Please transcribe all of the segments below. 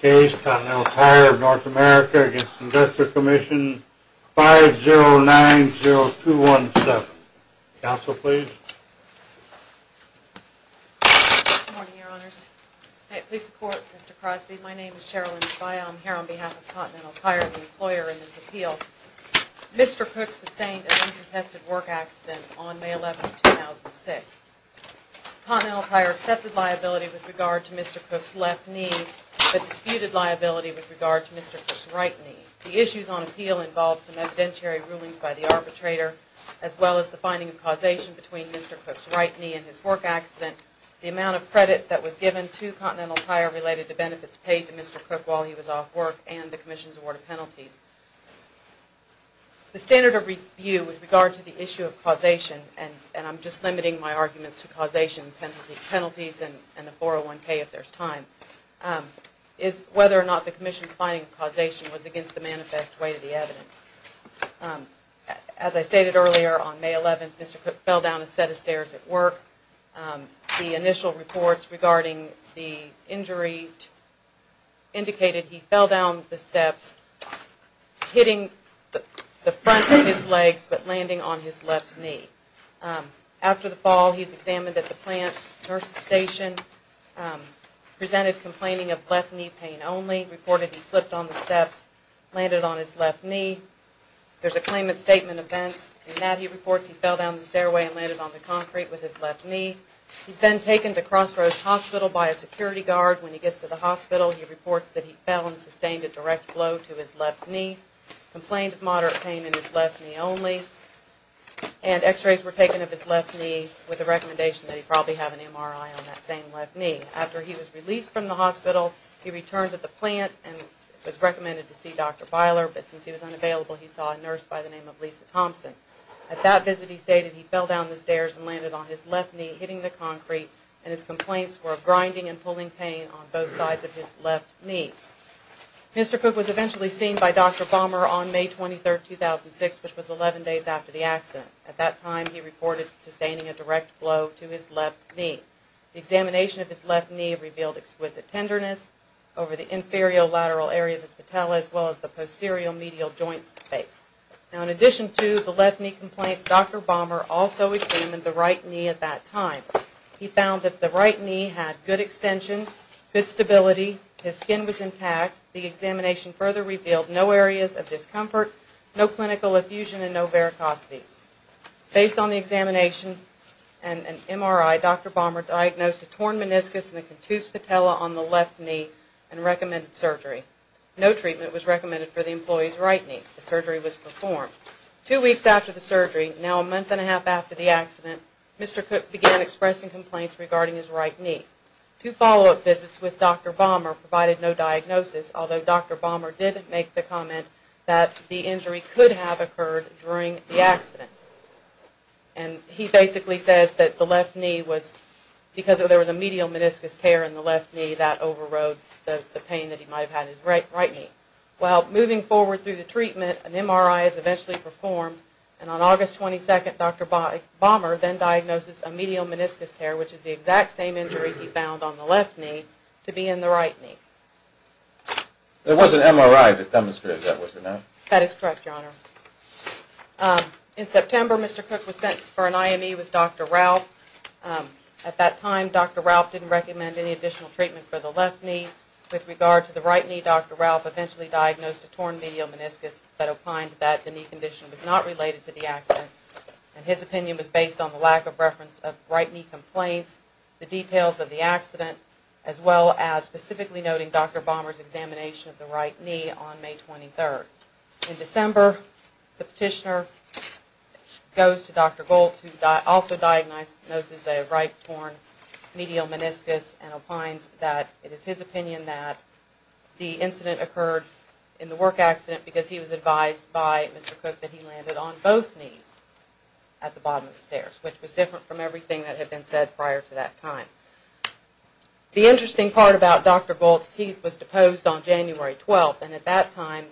Case, Continental Tire North America v. The Workers' Compensation Commission, 5090217. Counsel, please. Good morning, Your Honors. May it please the Court, Mr. Crosby. My name is Sherrilyn Shbaya. I'm here on behalf of Continental Tire, the employer in this appeal. Mr. Cook sustained an uncontested work accident on May 11, 2006. Continental Tire accepted liability with regard to Mr. Cook's left knee, but disputed liability with regard to Mr. Cook's right knee. The issues on appeal involve some evidentiary rulings by the arbitrator, as well as the finding of causation between Mr. Cook's right knee and his work accident, the amount of credit that was given to Continental Tire related to benefits paid to Mr. Cook while he was off work, and the Commission's award of penalties. The standard of review with regard to the issue of causation, and I'm just limiting my arguments to causation, penalties, and the 401k if there's time, is whether or not the Commission's finding of causation was against the manifest weight of the evidence. As I stated earlier, on May 11, Mr. Cook fell down a set of stairs at work. The initial reports regarding the injury indicated he fell down the steps, hitting the front of his legs, but landing on his left knee. After the fall, he's examined at the plant nurse's station, presented complaining of left knee pain only, reported he slipped on the steps, landed on his left knee. There's a claimant statement of events in that he reports he fell down the stairway and landed on the concrete with his left knee. He's then taken to Crossroads Hospital by a security guard. When he gets to the hospital, he reports that he fell and sustained a direct blow to his left knee, complained of moderate pain in his left knee only, and x-rays were taken of his left knee with the recommendation that he probably have an MRI on that same left knee. After he was released from the hospital, he returned to the plant and was recommended to see Dr. Byler, but since he was unavailable, he saw a nurse by the name of Lisa Thompson. At that visit, he stated he fell down the stairs and landed on his left knee, hitting the concrete, and his complaints were of grinding and pulling pain on both sides of his left knee. Mr. Cook was eventually seen by Dr. Balmer on May 23, 2006, which was 11 days after the accident. At that time, he reported sustaining a direct blow to his left knee. The examination of his left knee revealed exquisite tenderness over the inferior lateral area of his patella, as well as the posterior medial joint space. Now, in addition to the left knee complaints, Dr. Balmer also examined the right knee at that time. He found that the right knee had good extension, good stability, his skin was intact. The examination further revealed no areas of discomfort, no clinical effusion, and no varicosities. Based on the examination and MRI, Dr. Balmer diagnosed a torn meniscus and a contused patella on the left knee and recommended surgery. No treatment was recommended for the employee's right knee. The surgery was performed. Two weeks after the surgery, now a month and a half after the accident, Mr. Cook began expressing complaints regarding his right knee. Two follow-up visits with Dr. Balmer provided no diagnosis, although Dr. Balmer did make the comment that the injury could have occurred during the accident. And he basically says that the left knee was, because there was a medial meniscus tear in the left knee, that overrode the pain that he might have had in his right knee. Well, moving forward through the treatment, an MRI is eventually performed, and on August 22, Dr. Balmer then diagnoses a medial meniscus tear, which is the exact same injury he found on the left knee, to be in the right knee. There was an MRI that demonstrated that, was there not? That is correct, Your Honor. In September, Mr. Cook was sent for an IME with Dr. Ralph. At that time, Dr. Ralph didn't recommend any additional treatment for the left knee. With regard to the right knee, Dr. Ralph eventually diagnosed a torn medial meniscus that opined that the knee condition was not related to the accident, and his opinion was based on the lack of reference of right knee complaints, the details of the accident, as well as specifically noting Dr. Balmer's examination of the right knee on May 23. In December, the petitioner goes to Dr. Goltz, who also diagnoses a right torn medial meniscus, and opines that it is his opinion that the incident occurred in the work accident because he was advised by Mr. Cook that he landed on both knees at the bottom of the stairs, which was different from everything that had been said prior to that time. The interesting part about Dr. Goltz' teeth was deposed on January 12, and at that time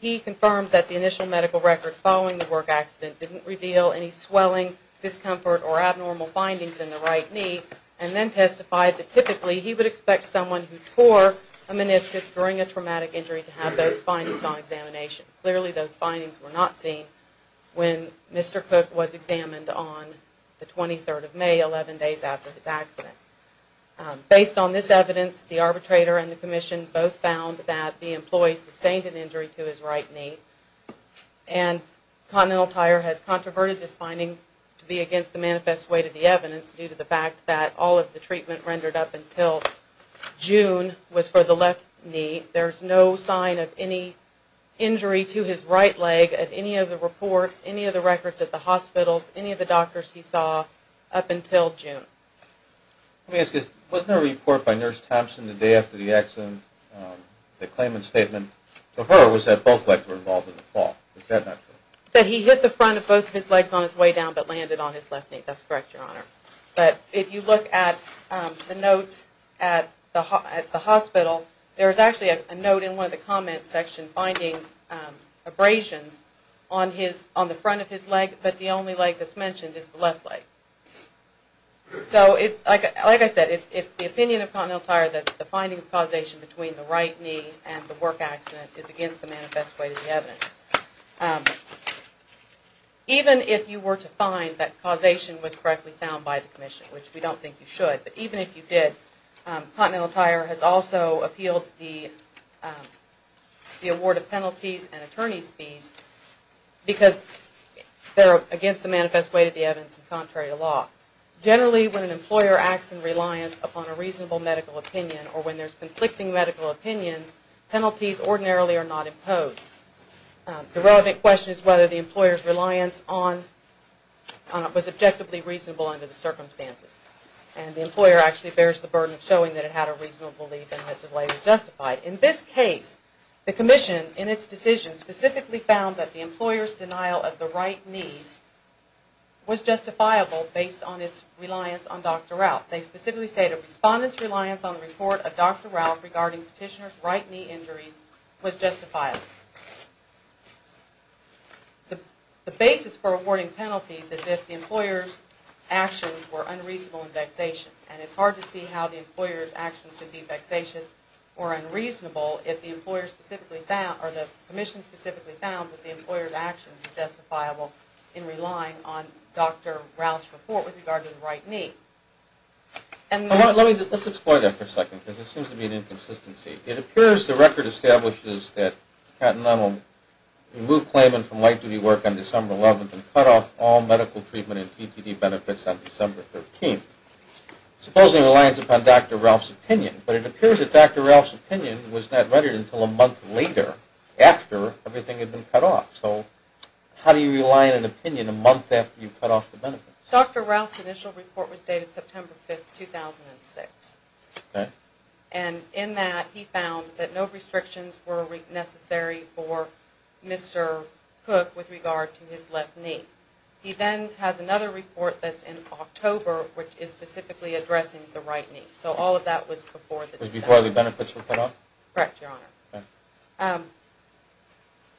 he confirmed that the initial medical records following the work accident didn't reveal any swelling, discomfort, or abnormal findings in the right knee, and then testified that typically he would expect someone who tore a meniscus during a traumatic injury to have those findings on examination. Clearly those findings were not seen when Mr. Cook was examined on the 23rd of May, 11 days after his accident. Based on this evidence, the arbitrator and the commission both found that the employee sustained an injury to his right knee, and Continental Tire has controverted this finding to be against the manifest weight of the evidence due to the fact that all of the treatment rendered up until June was for the left knee. There's no sign of any injury to his right leg at any of the reports, any of the records at the hospitals, any of the doctors he saw up until June. Let me ask you, wasn't there a report by Nurse Thompson the day after the accident that claim and statement to her was that both legs were involved in the fall? That he hit the front of both of his legs on his way down, but landed on his left knee. That's correct, Your Honor. But if you look at the notes at the hospital, there's actually a note in one of the comments section finding abrasions on the front of his leg, but the only leg that's mentioned is the left leg. So, like I said, it's the opinion of Continental Tire that the finding of causation between the right knee and the work accident is against the manifest weight of the evidence. Even if you were to find that causation was correctly found by the commission, which we don't think you should, but even if you did, Continental Tire has also appealed the award of penalties and attorney's fees because they're against the manifest weight of the evidence and contrary to law. Generally, when an employer acts in reliance upon a reasonable medical opinion or when there's conflicting medical opinions, penalties ordinarily are not imposed. The relevant question is whether the employer's reliance was objectively reasonable under the circumstances. And the employer actually bears the burden of showing that it had a reasonable belief and that the delay was justified. In this case, the commission, in its decision, specifically found that the employer's denial of the right knee was justifiable based on its reliance on Dr. Rao. They specifically state a respondent's reliance on the report of Dr. Rao regarding petitioner's right knee injuries was justifiable. The basis for awarding penalties is if the employer's actions were unreasonable and vexatious. And it's hard to see how the employer's actions could be vexatious or unreasonable if the employer specifically found, or the commission specifically found that the employer's actions were justifiable in relying on Dr. Rao's report with regard to the right knee. Let's explore that for a second because there seems to be an inconsistency. It appears the record establishes that Continental removed claimant from light duty work on December 11th and cut off all medical treatment and TTD benefits on December 13th. Supposedly reliance upon Dr. Rao's opinion. But it appears that Dr. Rao's opinion was not readied until a month later after everything had been cut off. So how do you rely on an opinion a month after you've cut off the benefits? Dr. Rao's initial report was dated September 5th, 2006. Okay. And in that he found that no restrictions were necessary for Mr. Cook with regard to his left knee. He then has another report that's in October which is specifically addressing the right knee. So all of that was before the December. It was before the benefits were cut off? Correct, Your Honor. Okay.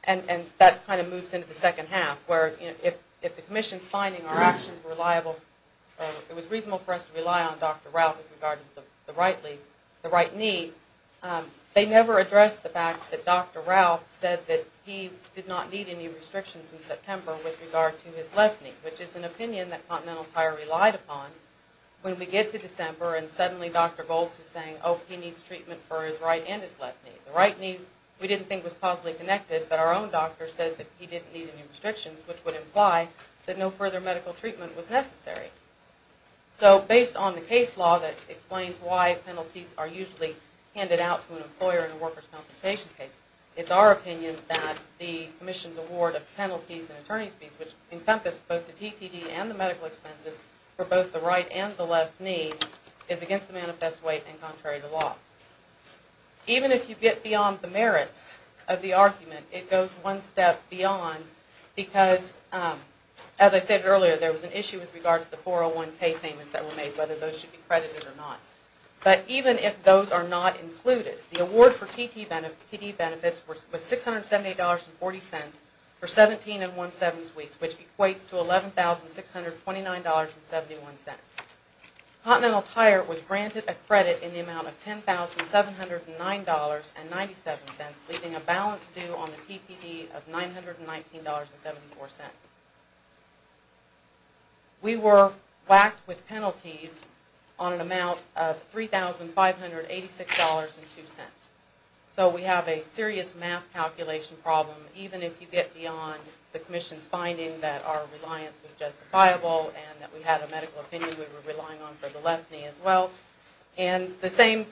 And that kind of moves into the second half where if the commission's finding our actions were reliable or it was reasonable for us to rely on Dr. Rao with regard to the right knee, they never addressed the fact that Dr. Rao said that he did not need any restrictions in September with regard to his left knee, which is an opinion that Continental Tire relied upon. When we get to December and suddenly Dr. Volz is saying, oh, he needs treatment for his right and his left knee. The right knee we didn't think was possibly connected, but our own doctor said that he didn't need any restrictions, which would imply that no further medical treatment was necessary. So based on the case law that explains why penalties are usually handed out to an employer in a worker's compensation case, it's our opinion that the commission's award of penalties and attorney's fees, which encompass both the TTD and the medical expenses for both the right and the left knee, is against the manifest way and contrary to law. Even if you get beyond the merits of the argument, it goes one step beyond, because as I stated earlier, there was an issue with regard to the 401k payments that were made, whether those should be credited or not. But even if those are not included, the award for TTD benefits was $678.40 for 17 and 17 suites, which equates to $11,629.71. Continental Tire was granted a credit in the amount of $10,709.97, leaving a balance due on the TTD of $919.74. We were whacked with penalties on an amount of $3,586.02. So we have a serious math calculation problem, even if you get beyond the commission's finding that our reliance was justifiable and that we had a medical opinion we were relying on for the left knee as well. And the same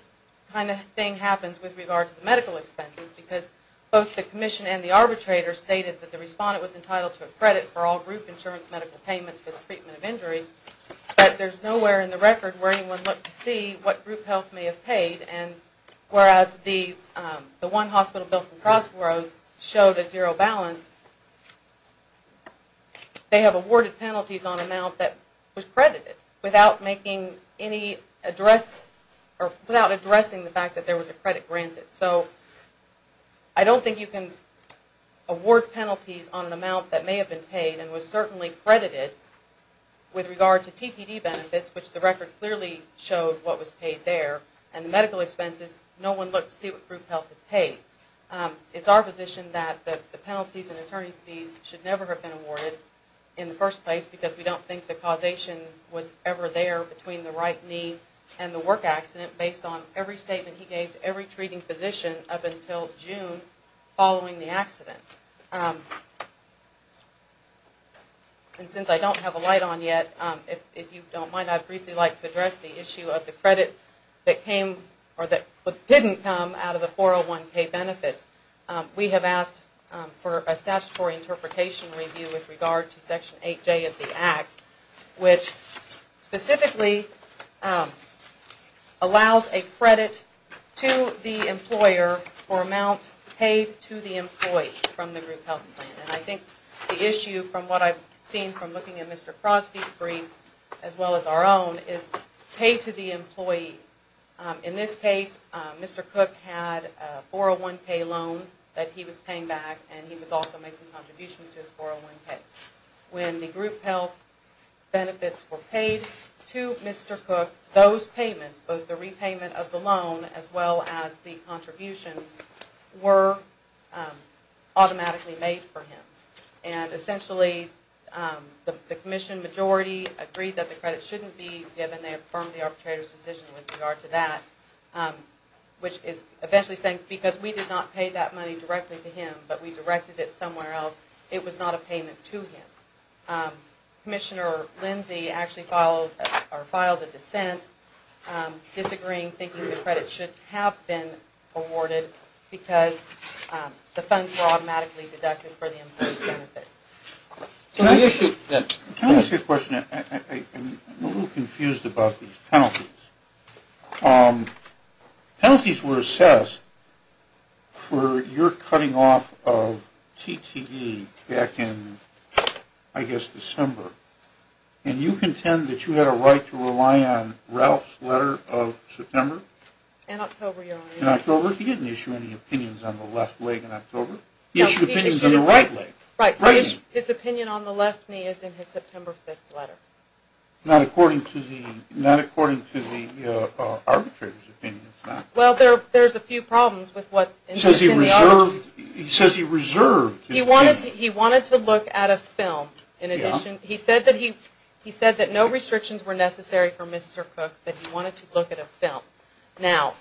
kind of thing happens with regard to the medical expenses, because both the commission and the arbitrator stated that the respondent was entitled to a credit for all group insurance medical payments for the treatment of injuries, but there's nowhere in the record where anyone looked to see what group health may have paid, and whereas the one hospital bill from Crossroads showed a zero balance, they have awarded penalties on an amount that was credited without addressing the fact that there was a credit granted. So I don't think you can award penalties on an amount that may have been paid and was certainly credited with regard to TTD benefits, which the record clearly showed what was paid there, and the medical expenses, no one looked to see what group health had paid. It's our position that the penalties and attorney's fees should never have been awarded in the first place because we don't think the causation was ever there between the right knee and the work accident based on every statement he gave to every treating physician up until June following the accident. And since I don't have a light on yet, if you don't mind, I'd briefly like to address the issue of the credit that came or that didn't come out of the 401k benefits. We have asked for a statutory interpretation review with regard to Section 8J of the Act, which specifically allows a credit to the employer for amounts paid to the employee from the group health plan. And I think the issue from what I've seen from looking at Mr. Crosby's brief as well as our own is pay to the employee. In this case, Mr. Cook had a 401k loan that he was paying back, and he was also making contributions to his 401k. When the group health benefits were paid to Mr. Cook, those payments, both the repayment of the loan as well as the contributions, were automatically made for him. And essentially, the commission majority agreed that the credit shouldn't be given. They affirmed the arbitrator's decision with regard to that, which is eventually saying because we did not pay that money directly to him, but we directed it somewhere else, it was not a payment to him. Commissioner Lindsey actually filed a dissent, disagreeing, thinking the credit should have been awarded because the funds were automatically deducted for the employee's benefits. Can I ask you a question? I'm a little confused about these penalties. Penalties were assessed for your cutting off of TTE back in, I guess, December. And you contend that you had a right to rely on Ralph's letter of September? In October, Your Honor. In October, he didn't issue any opinions on the left leg in October. He issued opinions on the right leg. Right. His opinion on the left knee is in his September 5th letter. Not according to the arbitrator's opinion. Well, there's a few problems with what is in the argument. He says he reserved his opinion. He wanted to look at a film. In addition, he said that no restrictions were necessary for Mr. Cook, but he wanted to look at a film. Now,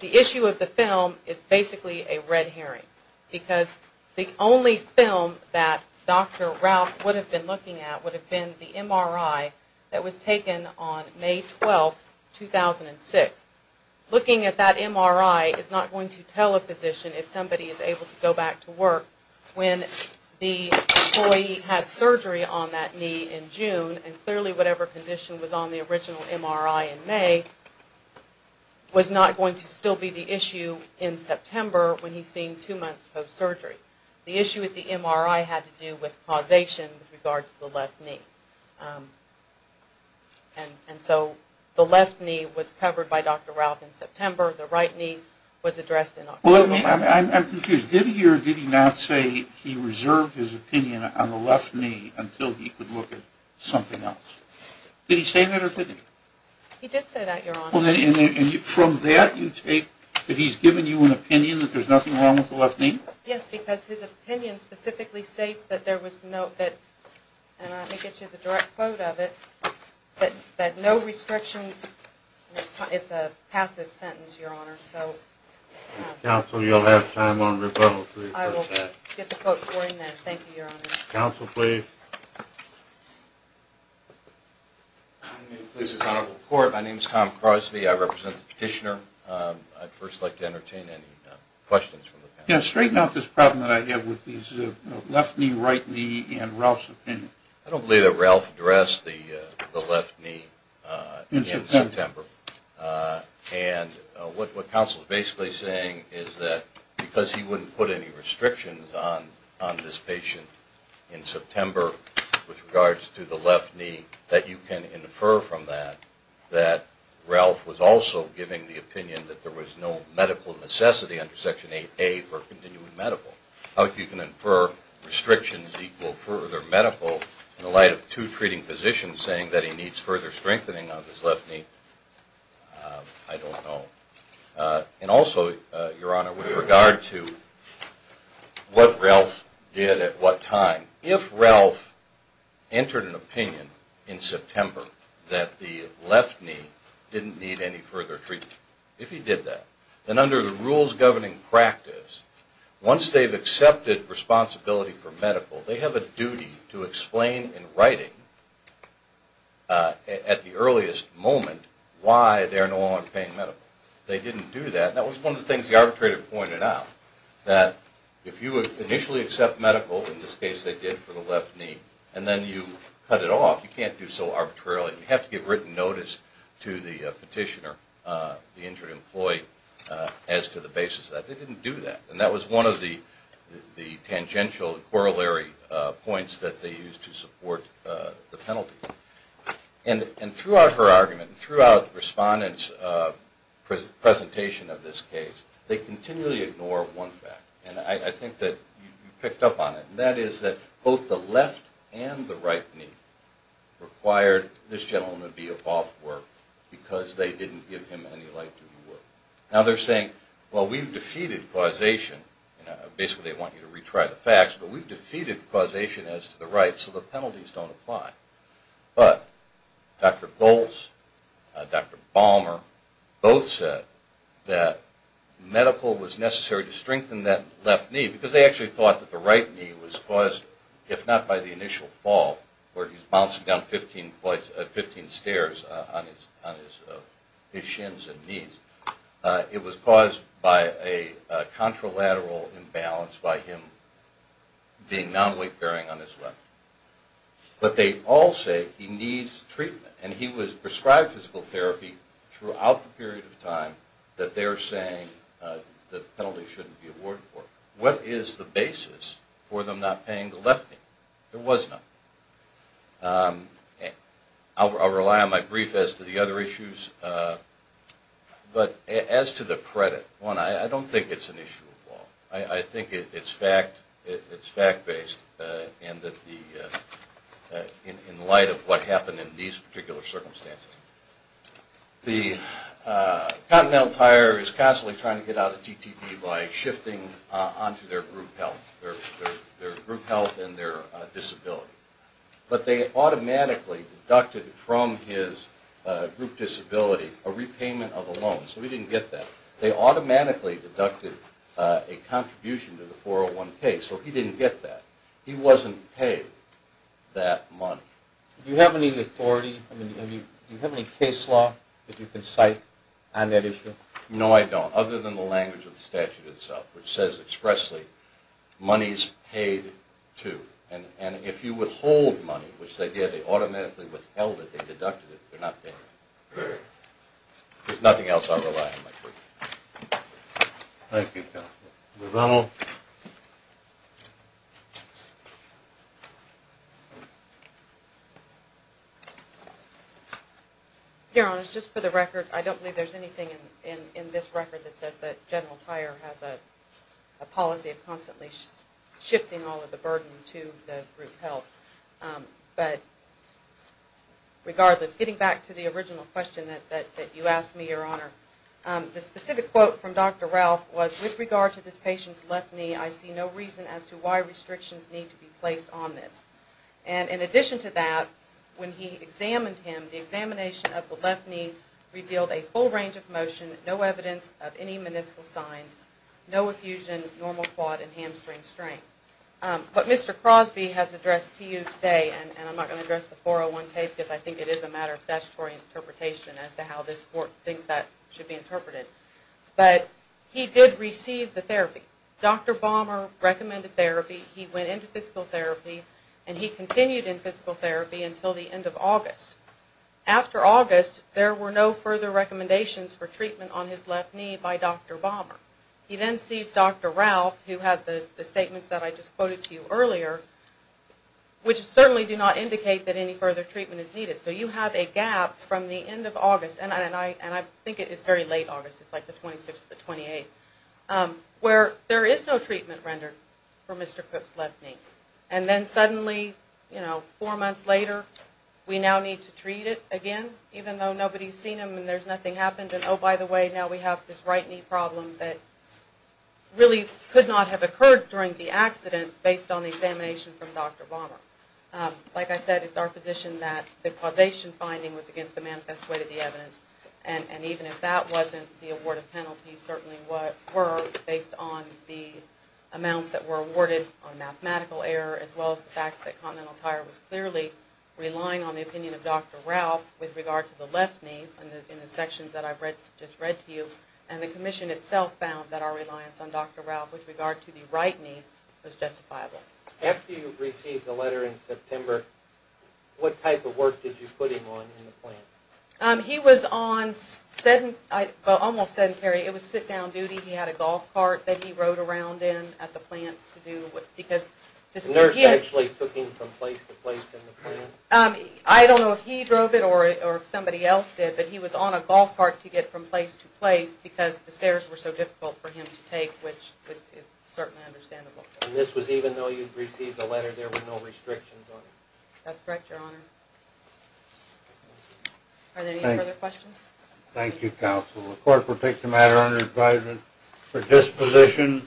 the issue of the film is basically a red herring because the only film that Dr. Ralph would have been looking at would have been the MRI that was taken on May 12th, 2006. Looking at that MRI is not going to tell a physician if somebody is able to go back to work when the employee had surgery on that knee in June and clearly whatever condition was on the original MRI in May was not going to still be the issue in September when he's seeing two months post-surgery. The issue with the MRI had to do with causation with regard to the left knee. And so the left knee was covered by Dr. Ralph in September. The right knee was addressed in October. I'm confused. Did he or did he not say he reserved his opinion on the left knee until he could look at something else? Did he say that or did he not? He did say that, Your Honor. And from that you take that he's given you an opinion that there's nothing wrong with the left knee? Yes, because his opinion specifically states that there was no— and I'm going to get you the direct quote of it— that no restrictions—it's a passive sentence, Your Honor. Counsel, you'll have time on rebuttal. I will get the quote during that. Thank you, Your Honor. Counsel, please. This is Honorable Court. My name is Tom Crosby. I represent the petitioner. I'd first like to entertain any questions from the panel. Straighten out this problem that I have with these left knee, right knee, and Ralph's opinion. I don't believe that Ralph addressed the left knee in September. And what counsel is basically saying is that because he wouldn't put any restrictions on this patient in September with regards to the left knee, that you can infer from that that Ralph was also giving the opinion that there was no medical necessity under Section 8A for continuing medical. If you can infer restrictions equal further medical in the light of two treating physicians saying that he needs further strengthening of his left knee, I don't know. And also, Your Honor, with regard to what Ralph did at what time, if Ralph entered an opinion in September that the left knee didn't need any further treatment, if he did that, then under the rules governing practice, once they've accepted responsibility for medical, they have a duty to explain in writing at the earliest moment why they're no longer paying medical. They didn't do that. And that was one of the things the arbitrator pointed out, that if you initially accept medical, in this case they did for the left knee, and then you cut it off, you can't do so arbitrarily. You have to give written notice to the petitioner, the injured employee, as to the basis of that. They didn't do that. And that was one of the tangential and corollary points that they used to support the penalty. And throughout her argument and throughout the respondents' presentation of this case, they continually ignore one fact. And I think that you picked up on it. And that is that both the left and the right knee required this gentleman to be off work because they didn't give him any light-duty work. Now they're saying, well, we've defeated causation. Basically they want you to retry the facts. But we've defeated causation as to the right, so the penalties don't apply. But Dr. Goltz, Dr. Balmer both said that medical was necessary to strengthen that left knee because they actually thought that the right knee was caused, if not by the initial fall, where he's bouncing down 15 stairs on his shins and knees, it was caused by a contralateral imbalance by him being non-weight-bearing on his left. But they all say he needs treatment. And he was prescribed physical therapy throughout the period of time that they're saying that the penalty shouldn't be awarded for. What is the basis for them not paying the left knee? There was none. I'll rely on my brief as to the other issues. But as to the credit, one, I don't think it's an issue at all. I think it's fact-based in light of what happened in these particular circumstances. The Continental Tire is constantly trying to get out of TTP by shifting onto their group health. Their group health and their disability. But they automatically deducted from his group disability a repayment of a loan. So he didn't get that. They automatically deducted a contribution to the 401K. So he didn't get that. He wasn't paid that money. Do you have any authority? Do you have any case law that you can cite on that issue? No, I don't. Other than the language of the statute itself, which says expressly, money is paid to. And if you withhold money, which they did, they automatically withheld it. They deducted it. They're not paying it. If nothing else, I'll rely on my brief. Thank you, counsel. Ms. Arnold? Your Honor, just for the record, I don't believe there's anything in this record that says that General Tire has a policy of constantly shifting all of the burden to the group health. But regardless, getting back to the original question that you asked me, Your Honor, the specific quote from Dr. Ralph was, With regard to this patient's left knee, I see no reason as to why restrictions need to be placed on this. And in addition to that, when he examined him, the examination of the left knee revealed a full range of motion, no evidence of any meniscal signs, no effusion, normal quad and hamstring strength. But Mr. Crosby has addressed to you today, and I'm not going to address the 401K because I think it is a matter of statutory interpretation as to how this court thinks that should be interpreted, but he did receive the therapy. Dr. Balmer recommended therapy. He went into physical therapy, and he continued in physical therapy until the end of August. After August, there were no further recommendations for treatment on his left knee by Dr. Balmer. He then sees Dr. Ralph, who had the statements that I just quoted to you earlier, which certainly do not indicate that any further treatment is needed. So you have a gap from the end of August, and I think it is very late August, it's like the 26th or the 28th, where there is no treatment rendered for Mr. Crook's left knee. And then suddenly, you know, four months later, we now need to treat it again, even though nobody's seen him and there's nothing happened, and oh, by the way, now we have this right knee problem that really could not have occurred during the accident based on the examination from Dr. Balmer. Like I said, it's our position that the causation finding was against the manifest way to the evidence, and even if that wasn't the award of penalty, certainly what were, based on the amounts that were awarded on mathematical error, as well as the fact that Continental Tire was clearly relying on the opinion of Dr. Ralph with regard to the left knee in the sections that I just read to you, and the Commission itself found that our reliance on Dr. Ralph with regard to the right knee was justifiable. After you received the letter in September, what type of work did you put him on in the plant? He was on, well, almost sedentary. It was sit-down duty. He had a golf cart that he rode around in at the plant to do, because this is his... The nurse actually took him from place to place in the plant? I don't know if he drove it or somebody else did, but he was on a golf cart to get from place to place because the stairs were so difficult for him to take, which is certainly understandable. And this was even though you'd received the letter, there were no restrictions on it? That's correct, Your Honor. Are there any further questions? Thank you, counsel. The court will take the matter under advisement for disposition.